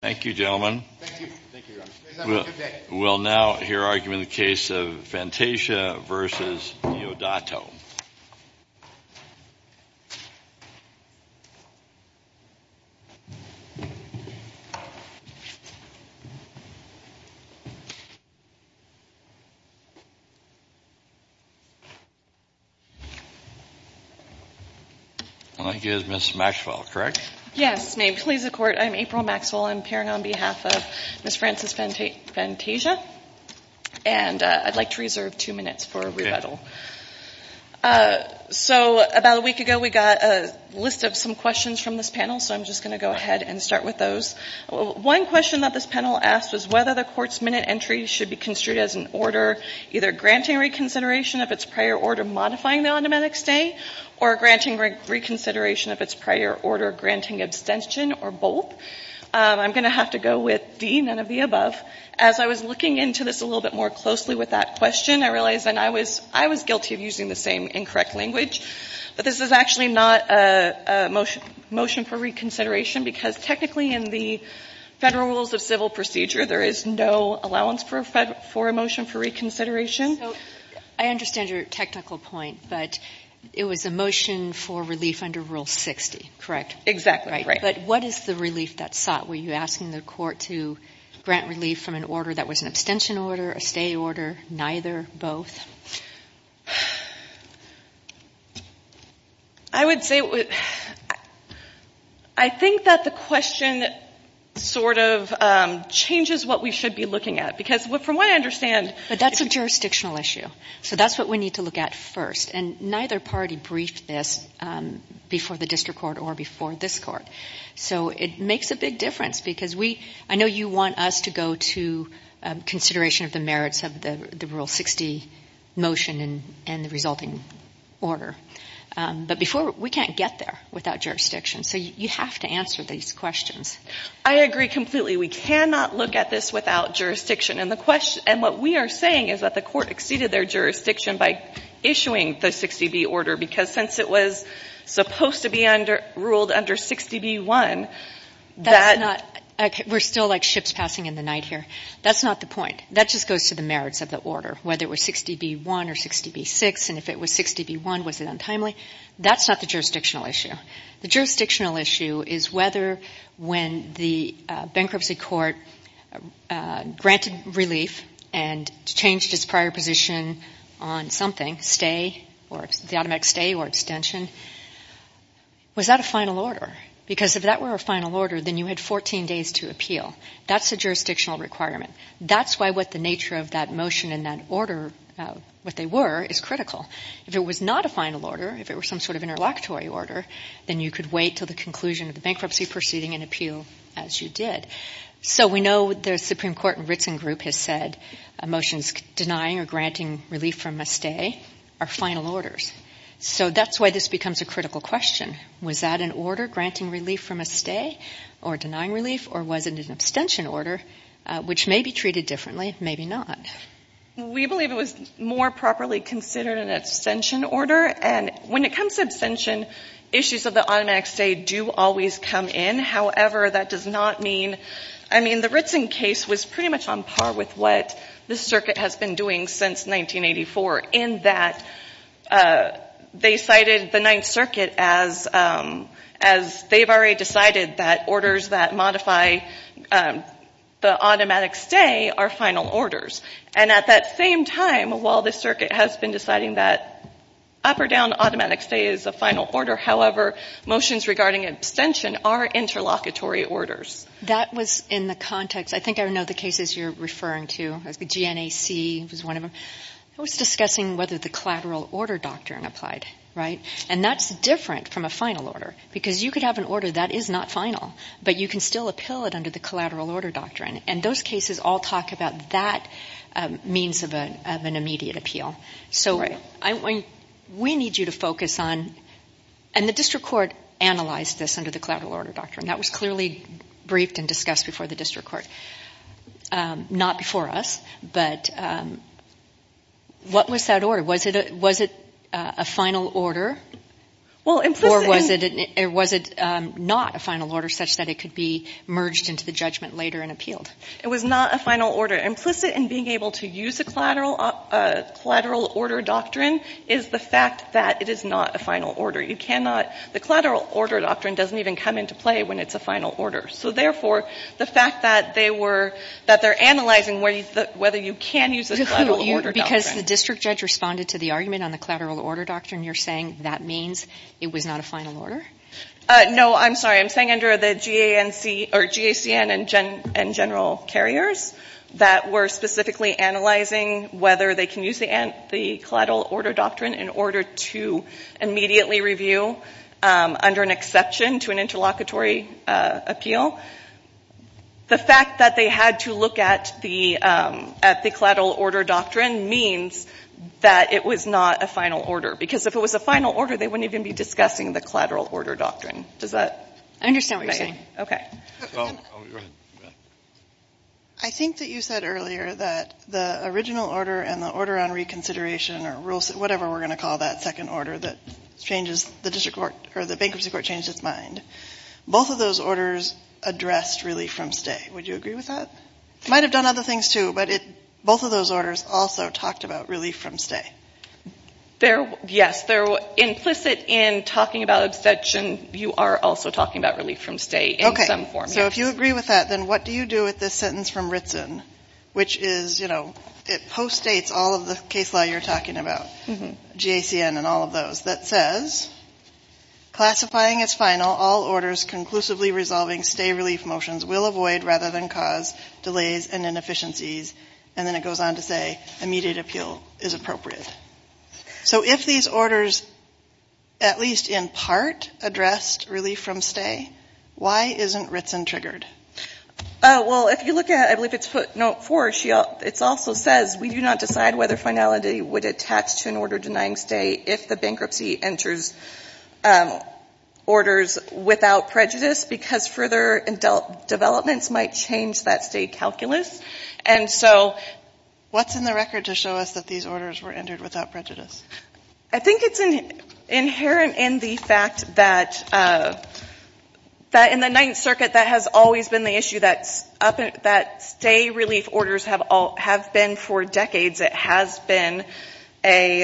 Thank you gentlemen. We'll now hear argument in the case of Fantasia v. Diodato. I'm April Maxwell. I'm appearing on behalf of Ms. Frances Fantasia. And I'd like to reserve two minutes for rebuttal. So about a week ago we got a list of some questions from this panel. So I'm just going to go ahead and start with those. One question that this panel asked was whether the court's minute entry should be construed as an order either granting reconsideration of its prior order modifying the automatic stay or granting reconsideration of its prior order granting abstention or both. I'm going to have to go with D, none of the above. As I was looking into this a little bit more closely with that question, I realized that I was guilty of using the same incorrect language. But this is actually not a motion for reconsideration because technically in the Federal Rules of Civil Procedure there is no allowance for a motion for reconsideration. So I understand your technical point, but it was a motion for relief under Rule 60, correct? Exactly, right. But what is the relief that's sought? Were you asking the court to grant relief from an order that was an abstention order, a stay order, neither, both? I would say I think that the question sort of changes what we should be looking at because from what I understand But that's a jurisdictional issue. So that's what we need to look at first. And neither party briefed this before the district court or before this court. So it makes a big difference because we, I know you want us to go to consideration of the merits of the Rule 60 motion and the resulting order. But before, we can't get there without jurisdiction. So you have to answer these questions. I agree completely. We cannot look at this without jurisdiction. And what we are saying is that the court exceeded their jurisdiction by issuing the 60B order because since it was supposed to be ruled under 60B1, that That's not, we're still like ships passing in the night here. That's not the point. That just goes to the merits of the order, whether it was 60B1 or 60B6. And if it was 60B1, was it untimely? That's not the jurisdictional issue. The jurisdictional issue is whether when the bankruptcy court granted relief and changed its prior position on something, stay, or the automatic stay or extension, was that a final order? Because if that were a final order, then you had 14 days to appeal. That's a jurisdictional requirement. That's why what the nature of that motion and that order, what they were, is critical. If it was not a final order, if it were some sort of interlocutory order, then you could wait until the conclusion of the bankruptcy proceeding and appeal as you did. So we know the Supreme Court and Ritzen group has said a motion denying or granting relief from a stay are final orders. So that's why this becomes a critical question. Was that an order granting relief from a stay or denying relief, or was it an abstention order, which may be treated differently, maybe not? We believe it was more properly considered an abstention order. And when it comes to abstention, issues of the automatic stay do always come in. However, that does not mean, I mean, the Ritzen case was pretty much on par with what the circuit has been doing since 1984 in that they cited the Ninth Circuit as they've already decided that orders that modify the automatic stay are final orders. And at that same time, while the circuit has been deciding that up or down automatic stay is a final order, however, motions regarding abstention are interlocutory orders. That was in the context, I think I know the cases you're referring to, the GNAC was one of them. I was discussing whether the collateral order doctrine applied, right? And that's different from a final order, because you could have an order that is not final, but you can still appeal it under the collateral order doctrine. And those cases all talk about that means of an immediate appeal. So we need you to focus on, and the district court analyzed this under the collateral order doctrine. That was clearly briefed and discussed before the district court. Not before us, but what was that order? Was it a final order? Or was it not a final order such that it could be merged into the judgment later and appealed? It was not a final order. Implicit in being able to use a collateral order doctrine is the fact that it is not a final order. You cannot, the collateral order doctrine doesn't even come into play when it's a final order. So therefore, the fact that they were, that they're analyzing whether you can use a collateral order doctrine. Because the district judge responded to the argument on the collateral order doctrine, you're saying that means it was not a final order? No, I'm sorry. I'm saying under the GANC, or GACN and general carriers that were specifically analyzing whether they can use the collateral order doctrine in order to immediately review under an exception to an interlocutory appeal. The fact that they had to look at the collateral order doctrine means that it was not a final order. Because if it was a final order, they wouldn't even be discussing the collateral order doctrine. Does that make sense? I think that you said earlier that the original order and the order on reconsideration or rules, whatever we're going to call that second order that changes the district court or the bankruptcy court changes its mind. Both of those orders addressed relief from stay. Would you agree with that? Might have done other things too, but both of those orders also talked about relief from stay. Yes. They're implicit in talking about abstention. You are also talking about relief from stay in some form. Okay. So if you agree with that, then what do you do with this sentence from Ritson, which is, you know, it post-states all of the case law you're talking about, GACN and all of those, that says, classifying as final all orders conclusively resolving stay relief motions will avoid rather than cause delays and inefficiencies. And then it goes on to say, immediate appeal is appropriate. So if these orders, at least in part, addressed relief from stay, why isn't Ritson triggered? Well, if you look at, I believe it's footnote 4, it also says, we do not decide whether finality would attach to an order denying stay if the bankruptcy enters orders without prejudice because further developments might change that stay calculus. And so... What's in the record to show us that these orders were entered without prejudice? I think it's inherent in the fact that in the Ninth Circuit, that has always been the issue, that stay relief orders have been for decades. It has been a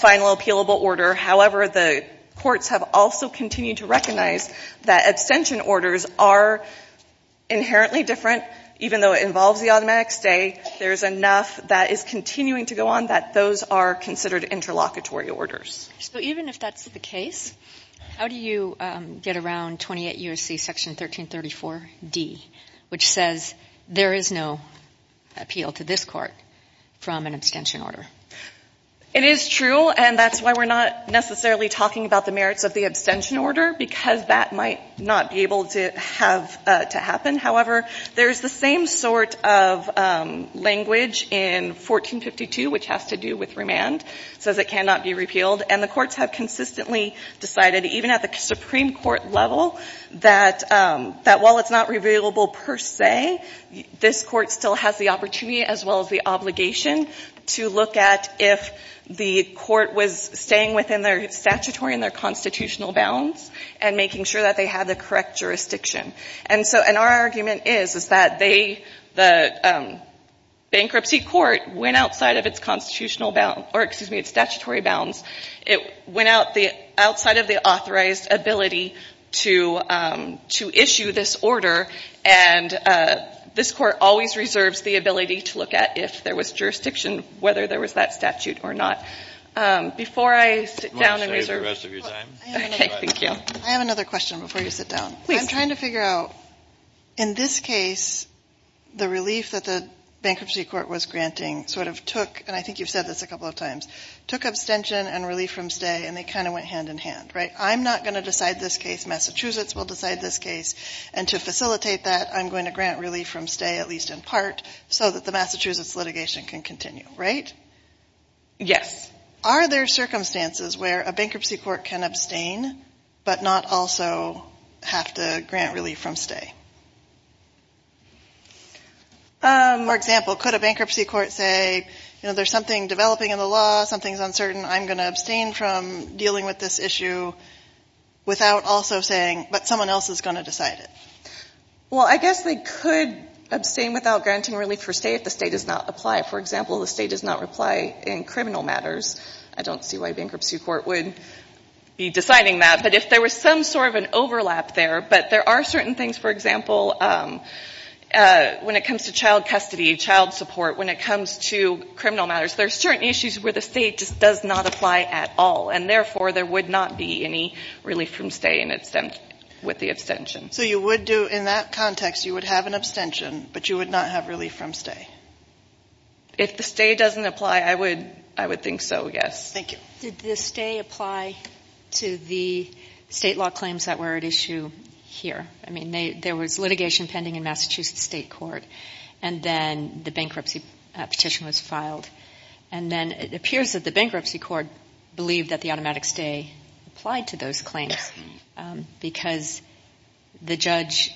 final appealable order. However, the courts have also continued to recognize that abstention orders are inherently different even though it involves the automatic stay. There's enough that is continuing to go on that those are considered interlocutory orders. So even if that's the case, how do you get around 28 U.S.C. Section 1334D, which says, there is no appeal to this court from an abstention order? It is true, and that's why we're not necessarily talking about the merits of the abstention order because that might not be able to happen. However, there's the same sort of language in 1452, which has to do with remand, says it cannot be repealed. And the courts have consistently decided, even at the Supreme Court level, that while it's not repealable per se, this court still has the opportunity as well as the obligation to look at if the court was staying within their statutory and their constitutional bounds and making sure that they had the correct jurisdiction. And so, and our argument is, is that they, the bankruptcy court, went outside of its constitutional bounds, or excuse me, its statutory bounds. It went outside of the authorized ability to issue this order, and this court always reserves the ability to look at if there was jurisdiction, whether there was that statute or not. Before I sit down and reserve... I have another question before you sit down. I'm trying to figure out, in this case, the relief that the bankruptcy court was granting sort of took, and I think you've said this a couple of times, took abstention and relief from stay, and they kind of went hand in hand. I'm not going to decide this case. Massachusetts will decide this case, and to facilitate that, I'm going to grant relief from stay, at least in part, so that the Massachusetts litigation can continue, right? Yes. Are there circumstances where a bankruptcy court can abstain but not also have to grant relief from stay? For example, could a bankruptcy court say, you know, there's something developing in the law, something's uncertain, I'm going to abstain from dealing with this issue without also saying, but someone else is going to decide it. Well, I guess they could abstain without granting relief for stay if the state does not apply. For example, if the state does not reply in criminal matters, I don't see why a bankruptcy court would be deciding that, but if there was some sort of an overlap there, but there are certain things, for example, when it comes to child custody, child support, when it comes to criminal matters, there are certain issues where the state just does not apply at all, and therefore, there would not be any relief from stay with the abstention. So you would do, in that context, you would have an abstention, but you would not have relief from stay? If the stay doesn't apply, I would think so, yes. Thank you. Did the stay apply to the state law claims that were at issue here? I mean, there was litigation pending in Massachusetts state court, and then the bankruptcy petition was filed, and then it appears that the bankruptcy court believed that the automatic stay applied to those claims because the judge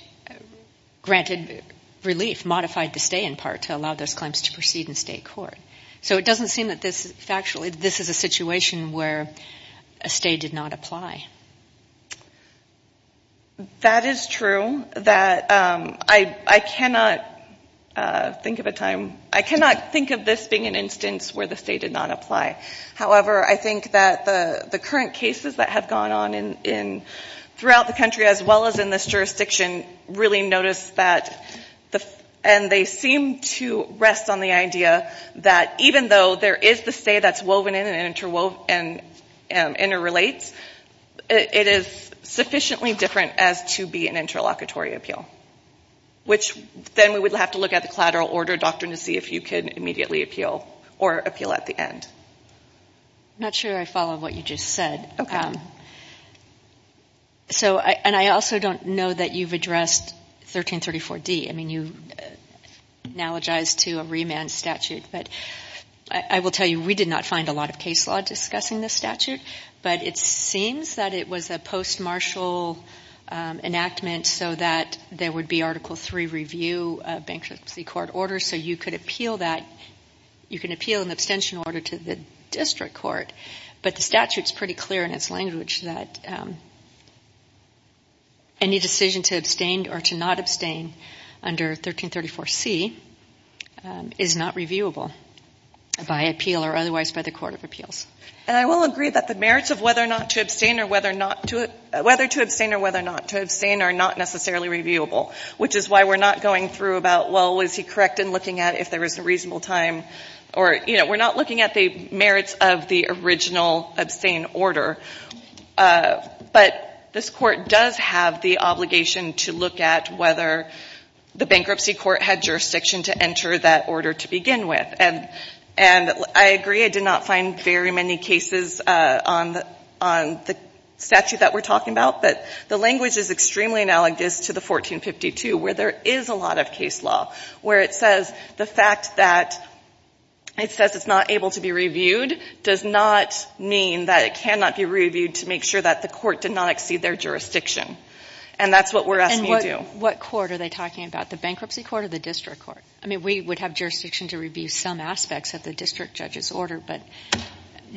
granted relief, modified the stay in part to allow those claims to proceed in state court. So it doesn't seem that this is factually, this is a situation where a stay did not apply. That is true. I cannot think of a time, I cannot think of this being an instance where the stay did not apply. However, I think that the current cases that have gone on throughout the country, as well as in this jurisdiction, really notice that, and they seem to rest on the idea that even though there is the stay that's woven in and interrelates, it is sufficiently different as to be an interlocutory appeal, which then we would have to look at the collateral order doctrine to see if you can immediately appeal or appeal at the end. I'm not sure I follow what you just said, and I also don't know that you've addressed 1334D. I mean, you analogized to a remand statute, but I will tell you we did not find a lot of case law discussing this statute, but it seems that it was a post-martial enactment so that there would be Article III review of bankruptcy court orders, so you could appeal that. You can appeal an abstention order to the district court, but the statute is pretty clear in its language that any decision to abstain or to not abstain under 1334C is not reviewable by appeal or otherwise by the court of appeals. And I will agree that the merits of whether to abstain or whether not to abstain are not necessarily reviewable, which is why we're not going through about, well, was he correct in looking at if there was a reasonable time, or, you know, we're not looking at the merits of the original abstain order. But this Court does have the obligation to look at whether the bankruptcy court had jurisdiction to enter that order to begin with. And I agree I did not find very many cases on the statute that we're talking about, but the language is extremely analogous to the 1452, where there is a lot of case law, where it says the fact that it says it's not able to be reviewed does not mean that it cannot be reviewed to make sure that the court did not exceed their jurisdiction. And that's what we're asking you to do. What court are they talking about, the bankruptcy court or the district court? I mean, we would have jurisdiction to review some aspects of the district judge's order, but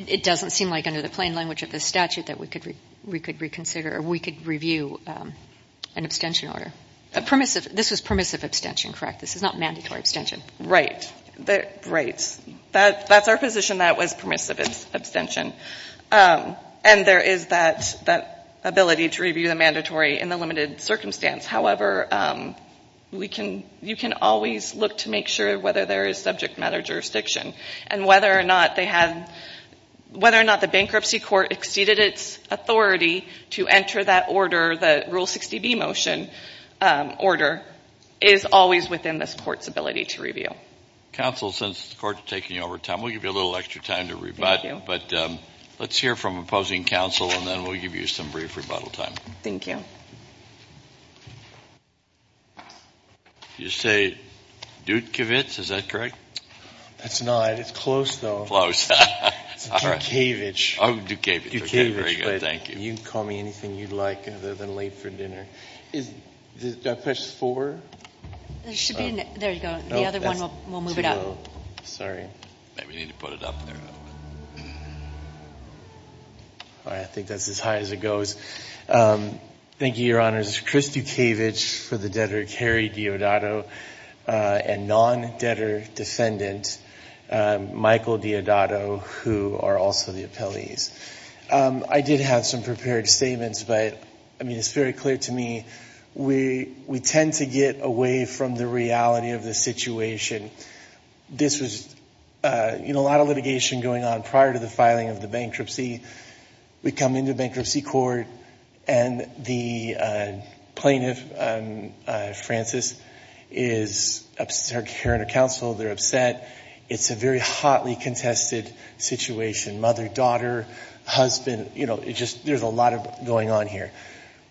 it doesn't seem like under the plain language of the statute that we could reconsider or we could review an abstention order. This was permissive abstention, correct? This is not mandatory abstention. Right. Right. That's our position, that it was permissive abstention. And there is that ability to review the mandatory in the limited circumstance. However, you can always look to make sure whether there is subject matter jurisdiction. And whether or not they have, whether or not the bankruptcy court exceeded its authority to enter that order, the Rule 60B motion order, is always within this court's ability to review. Counsel, since the court is taking over time, we'll give you a little extra time to rebut. But let's hear from opposing counsel, and then we'll give you some brief rebuttal time. Thank you. Did you say Dutkiewicz, is that correct? That's not. It's close, though. Close. It's Dutkiewicz. Oh, Dutkiewicz. Dutkiewicz. Very good. Thank you. You can call me anything you'd like, other than late for dinner. Is, did I press four? There should be, there you go. The other one will move it up. Sorry. Maybe you need to put it up there. All right. I think that's as high as it goes. Thank you, Your Honors. It's Chris Dutkiewicz for the debtor, Kerry Diodato, and non-debtor defendant, Michael Diodato, who are also the I did have some prepared statements, but, I mean, it's very clear to me, we tend to get away from the reality of the situation. This was, you know, a lot of litigation going on prior to the filing of the bankruptcy. We come into bankruptcy court, and the plaintiff, Frances, is, her and her counsel, they're upset. It's a very hotly contested situation. Mother, daughter, husband, you know, it just, there's a lot going on here.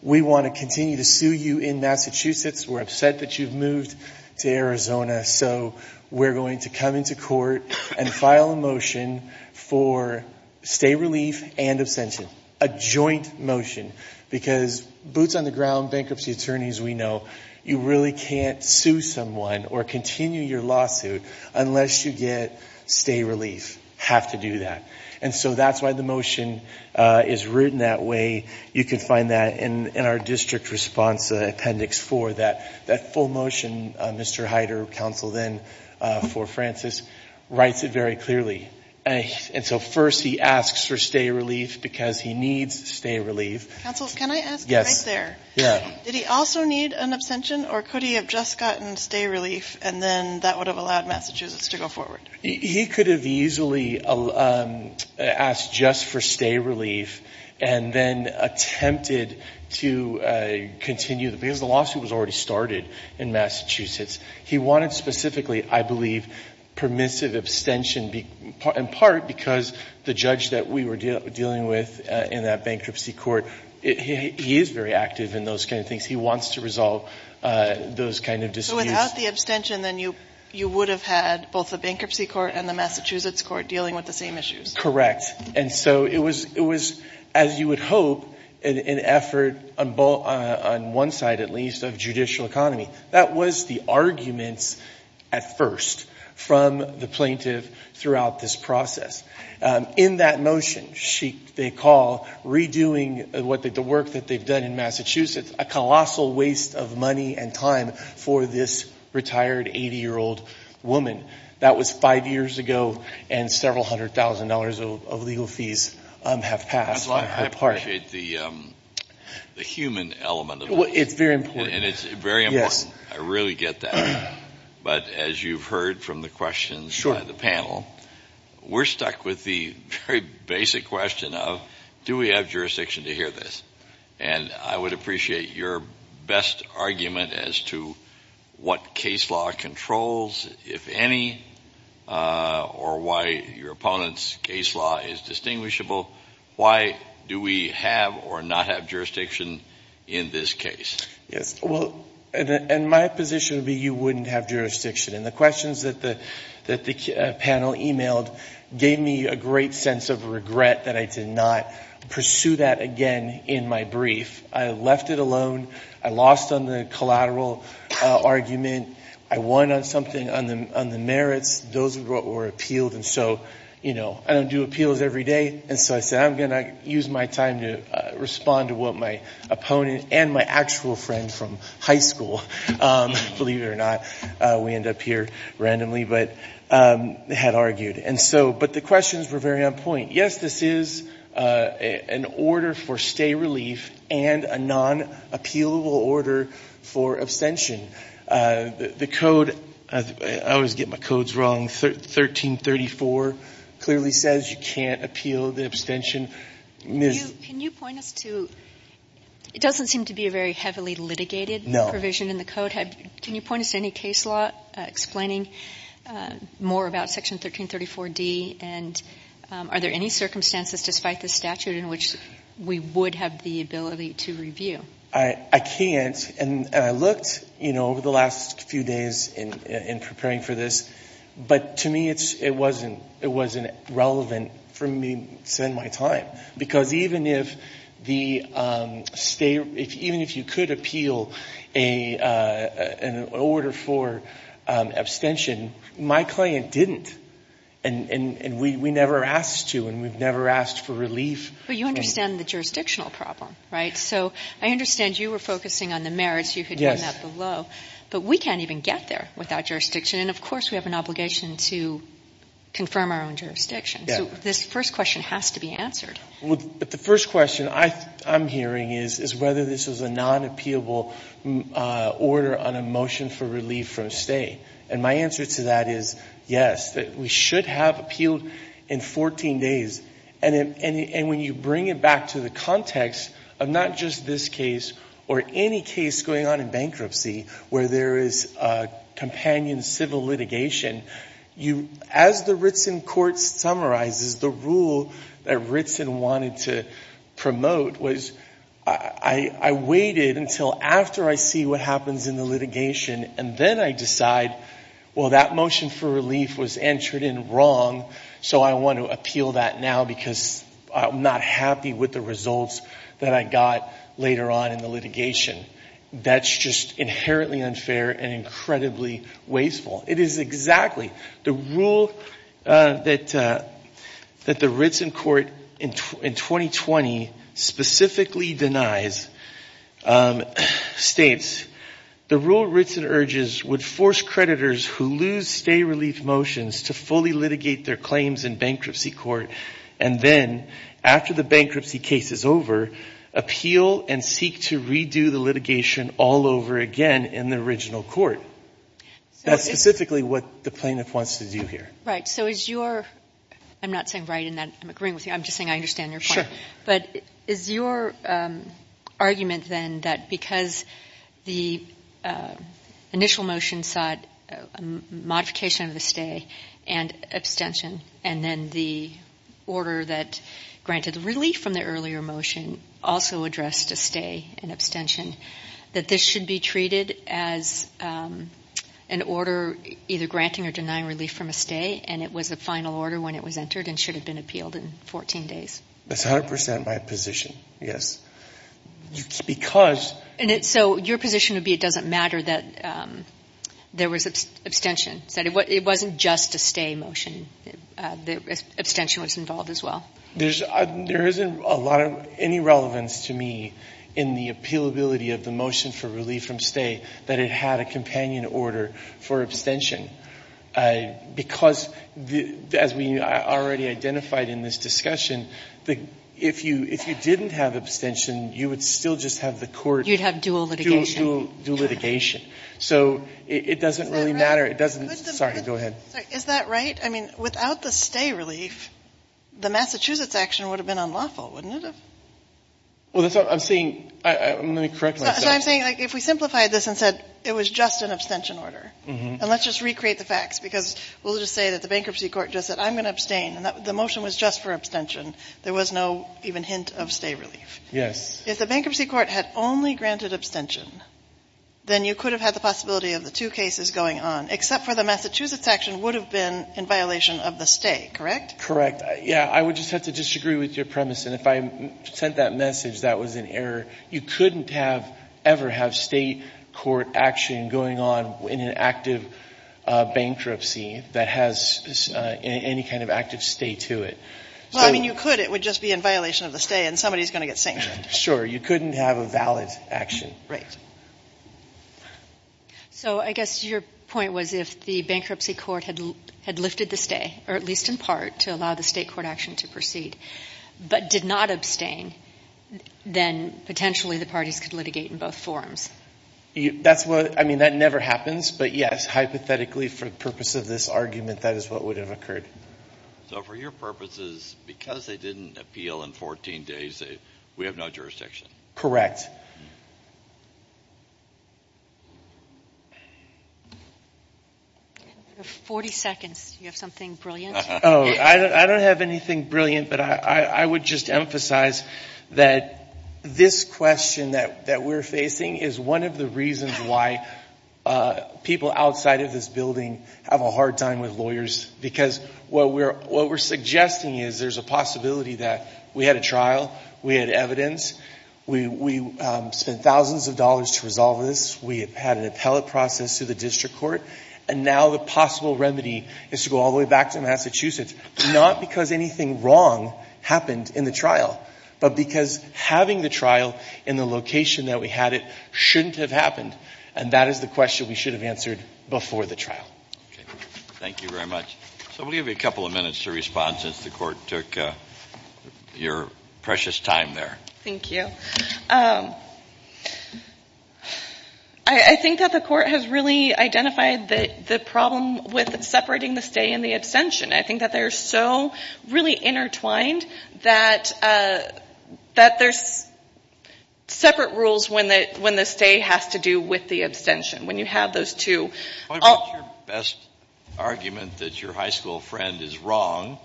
We want to continue to sue you in Massachusetts. We're upset that you've moved to Arizona. So, we're going to come into court and file a motion for stay relief and abstention. A joint motion. Because, boots on the ground bankruptcy attorneys, we know, you really can't sue someone or continue your lawsuit unless you get stay relief. You have to do that. And so, that's why the motion is written that way. You can find that in our district response appendix four. That full motion, Mr. Heider, counsel then for Frances, writes it very clearly. And so, first he asks for stay relief because he needs stay relief. Counsel, can I ask you right there? Yes. Yeah. Did he also need an abstention or could he have just gotten stay relief and then that would have allowed Massachusetts to go forward? He could have easily asked just for stay relief and then attempted to continue, because the lawsuit was already started in Massachusetts. He wanted specifically, I believe, permissive abstention in part because the judge that we were dealing with in that bankruptcy court, he is very active in those kind of things. He wants to resolve those kind of disputes. So, without the abstention, then you would have had both the bankruptcy court and the Massachusetts court dealing with the same issues? Correct. And so, it was, as you would hope, an effort on one side at least of judicial economy. That was the arguments at first from the plaintiff throughout this process. In that motion, they call redoing the work that they've done in Massachusetts a colossal waste of money and time for this retired 80-year-old woman. That was five years ago and several hundred thousand dollars of legal fees have passed. I appreciate the human element of that. It's very important. And it's very important. Yes. I really get that. But as you've heard from the questions by the panel, we're stuck with the very basic question of do we have jurisdiction to hear this? And I would appreciate your best argument as to what case law controls, if any, or why your opponent's case law is distinguishable. Why do we have or not have jurisdiction in this case? Yes. Well, and my position would be you wouldn't have jurisdiction. And the questions that the panel emailed gave me a great sense of regret that I did not pursue that again in my brief. I left it alone. I lost on the collateral argument. I won on something on the merits. Those were what were appealed. And so, you know, I don't do appeals every day. And so I said I'm going to use my time to respond to what my opponent and my actual friend from high school, believe it or not, we end up here randomly, but had argued. But the questions were very on point. Yes, this is an order for stay relief and a non-appealable order for abstention. The code, I always get my codes wrong, 1334 clearly says you can't appeal the abstention. Ms. Can you point us to, it doesn't seem to be a very heavily litigated provision in the code. Can you point us to any case law explaining more about Section 1334D? And are there any circumstances, despite the statute, in which we would have the ability to review? I can't. And I looked, you know, over the last few days in preparing for this, but to me it wasn't relevant for me to spend my time. Because even if you could appeal an order for abstention, my client didn't. And we never asked to, and we've never asked for relief. But you understand the jurisdictional problem, right? So I understand you were focusing on the merits. You had done that below. But we can't even get there without jurisdiction. And, of course, we have an obligation to confirm our own jurisdiction. So this first question has to be answered. But the first question I'm hearing is whether this was a non-appealable order on a motion for relief from stay. And my answer to that is yes, that we should have appealed in 14 days. And when you bring it back to the context of not just this case or any case going on in bankruptcy where there is a companion civil litigation, as the Ritson Court summarizes, the rule that Ritson wanted to promote was I waited until after I see what happens in the litigation. And then I decide, well, that motion for relief was entered in wrong. So I want to appeal that now because I'm not happy with the results that I got later on in the litigation. That's just inherently unfair and incredibly wasteful. It is exactly. The rule that the Ritson Court in 2020 specifically denies states, the rule Ritson urges would force creditors who lose stay relief motions to fully litigate their claims in bankruptcy court and then after the bankruptcy case is over, appeal and seek to redo the litigation all over again in the original court. That's specifically what the plaintiff wants to do here. Right. So is your – I'm not saying write in that. I'm agreeing with you. I'm just saying I understand your point. But is your argument then that because the initial motion sought modification of the stay and abstention and then the order that granted relief from the earlier motion also addressed a stay and abstention, that this should be treated as an order either granting or denying relief from a stay and it was a final order when it was entered and should have been appealed in 14 days? That's 100 percent my position, yes. Because – So your position would be it doesn't matter that there was abstention. It wasn't just a stay motion. The abstention was involved as well. There isn't a lot of – any relevance to me in the appealability of the motion for relief from stay that it had a companion order for abstention because, as we already identified in this discussion, if you didn't have abstention, you would still just have the court – You'd have dual litigation. Dual litigation. So it doesn't really matter. Is that right? Sorry, go ahead. Is that right? I mean, without the stay relief, the Massachusetts action would have been unlawful, wouldn't it have? Well, that's what I'm saying. Let me correct myself. So I'm saying like if we simplified this and said it was just an abstention order and let's just recreate the facts because we'll just say that the bankruptcy court just said I'm going to abstain and the motion was just for abstention. There was no even hint of stay relief. Yes. If the bankruptcy court had only granted abstention, then you could have had the possibility of the two cases going on, except for the Massachusetts action would have been in violation of the stay, correct? Correct. Yeah, I would just have to disagree with your premise. And if I sent that message that was an error, you couldn't have ever have state court action going on in an active bankruptcy that has any kind of active stay to it. Well, I mean, you could. It would just be in violation of the stay and somebody is going to get sanctioned. Sure. You couldn't have a valid action. Right. So I guess your point was if the bankruptcy court had lifted the stay, or at least in part, to allow the state court action to proceed, but did not abstain, then potentially the parties could litigate in both forms. That's what, I mean, that never happens. But, yes, hypothetically for the purpose of this argument, that is what would have occurred. So for your purposes, because they didn't appeal in 14 days, we have no jurisdiction. Correct. Yes. You have 40 seconds. Do you have something brilliant? Oh, I don't have anything brilliant, but I would just emphasize that this question that we're facing is one of the reasons why people outside of this building have a hard time with lawyers because what we're suggesting is there's a possibility that we had a trial, we had evidence, we spent thousands of dollars to resolve this, we had an appellate process through the district court, and now the possible remedy is to go all the way back to Massachusetts, not because anything wrong happened in the trial, but because having the trial in the location that we had it shouldn't have happened, and that is the question we should have answered before the trial. Okay. Thank you very much. So we'll give you a couple of minutes to respond since the court took your precious time there. Thank you. I think that the court has really identified the problem with separating the stay and the abstention. I think that they're so really intertwined that there's separate rules when the stay has to do with the abstention, when you have those two. What about your best argument that your high school friend is wrong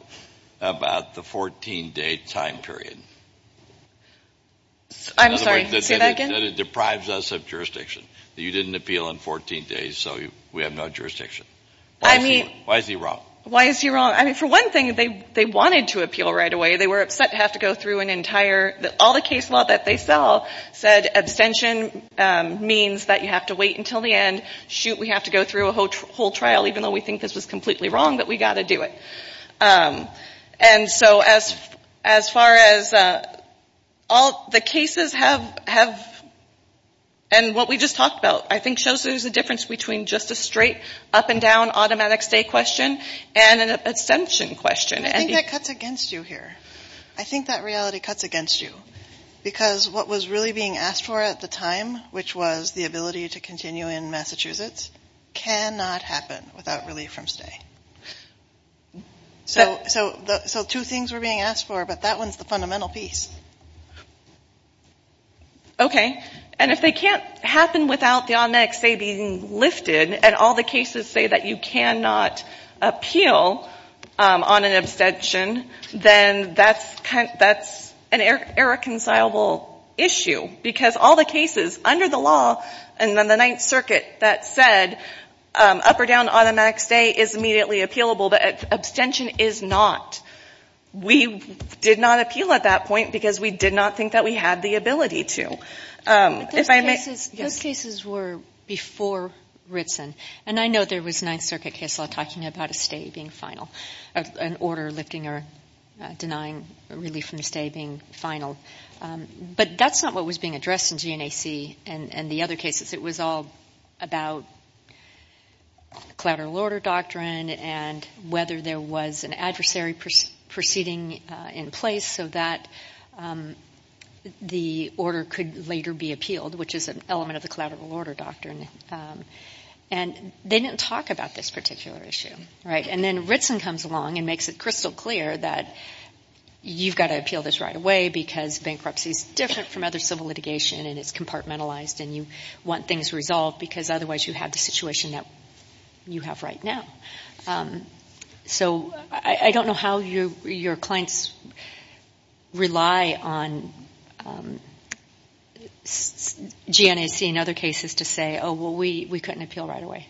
about the 14-day time period? I'm sorry, say that again. In other words, that it deprives us of jurisdiction, that you didn't appeal in 14 days, so we have no jurisdiction. Why is he wrong? Why is he wrong? I mean, for one thing, they wanted to appeal right away. They were upset to have to go through an entire – all the case law that they saw said abstention means that you have to wait until the end. Shoot, we have to go through a whole trial even though we think this was completely wrong, but we've got to do it. And so as far as all the cases have – and what we just talked about I think shows there's a difference between just a straight up and down automatic stay question and an abstention question. I think that cuts against you here. I think that reality cuts against you because what was really being asked for at the time, which was the ability to continue in Massachusetts, cannot happen without relief from stay. So two things were being asked for, but that one's the fundamental piece. Okay. And if they can't happen without the automatic stay being lifted and all the cases say that you cannot appeal on an abstention, then that's an irreconcilable issue because all the cases under the law and then the Ninth Circuit that said up or down automatic stay is immediately appealable, but abstention is not. We did not appeal at that point because we did not think that we had the ability to. Those cases were before Ritson, and I know there was Ninth Circuit case law talking about a stay being final, an order lifting or denying relief from stay being final. But that's not what was being addressed in GNAC and the other cases. It was all about collateral order doctrine and whether there was an adversary proceeding in place so that the order could later be appealed, which is an element of the collateral order doctrine. And they didn't talk about this particular issue. And then Ritson comes along and makes it crystal clear that you've got to appeal this right away because bankruptcy is different from other civil litigation and it's compartmentalized and you want things resolved because otherwise you have the situation that you have right now. So I don't know how your clients rely on GNAC and other cases to say, oh, well, we couldn't appeal right away.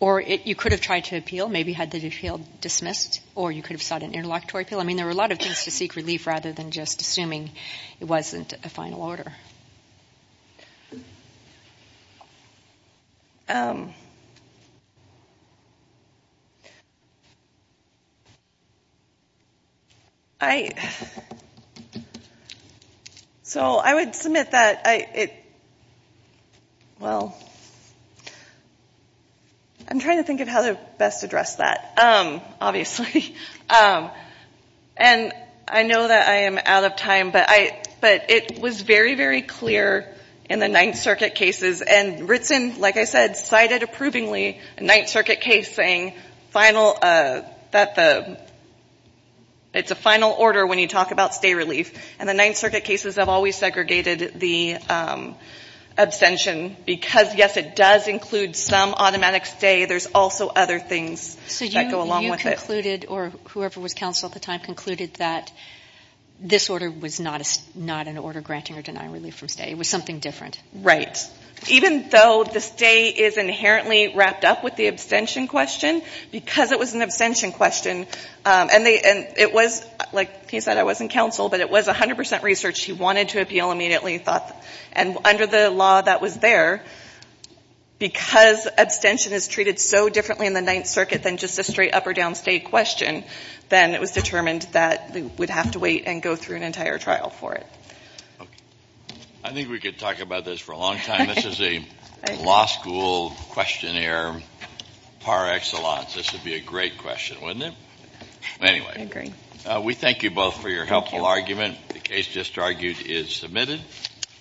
Or you could have tried to appeal, maybe had the appeal dismissed, or you could have sought an interlocutory appeal. I mean, there were a lot of things to seek relief rather than just assuming it wasn't a final order. So I would submit that it – well, I'm trying to think of how to best address that, obviously. And I know that I am out of time, but it was very, very clear in the Ninth Circuit cases. And Ritson, like I said, cited approvingly a Ninth Circuit case saying final – that the – it's a final order when you talk about stay relief. And the Ninth Circuit cases have always segregated the abstention because, yes, it does include some automatic stay. There's also other things that go along with it. And they concluded, or whoever was counsel at the time concluded, that this order was not an order granting or denying relief from stay. It was something different. Right. Even though the stay is inherently wrapped up with the abstention question, because it was an abstention question, and it was – like he said, I wasn't counsel, but it was 100 percent research. He wanted to appeal immediately and thought – and under the law that was there, because abstention is treated so differently in the Ninth Circuit than just a straight up or down stay question, then it was determined that they would have to wait and go through an entire trial for it. Okay. I think we could talk about this for a long time. This is a law school questionnaire par excellence. This would be a great question, wouldn't it? Anyway. I agree. We thank you both for your helpful argument. The case just argued is submitted.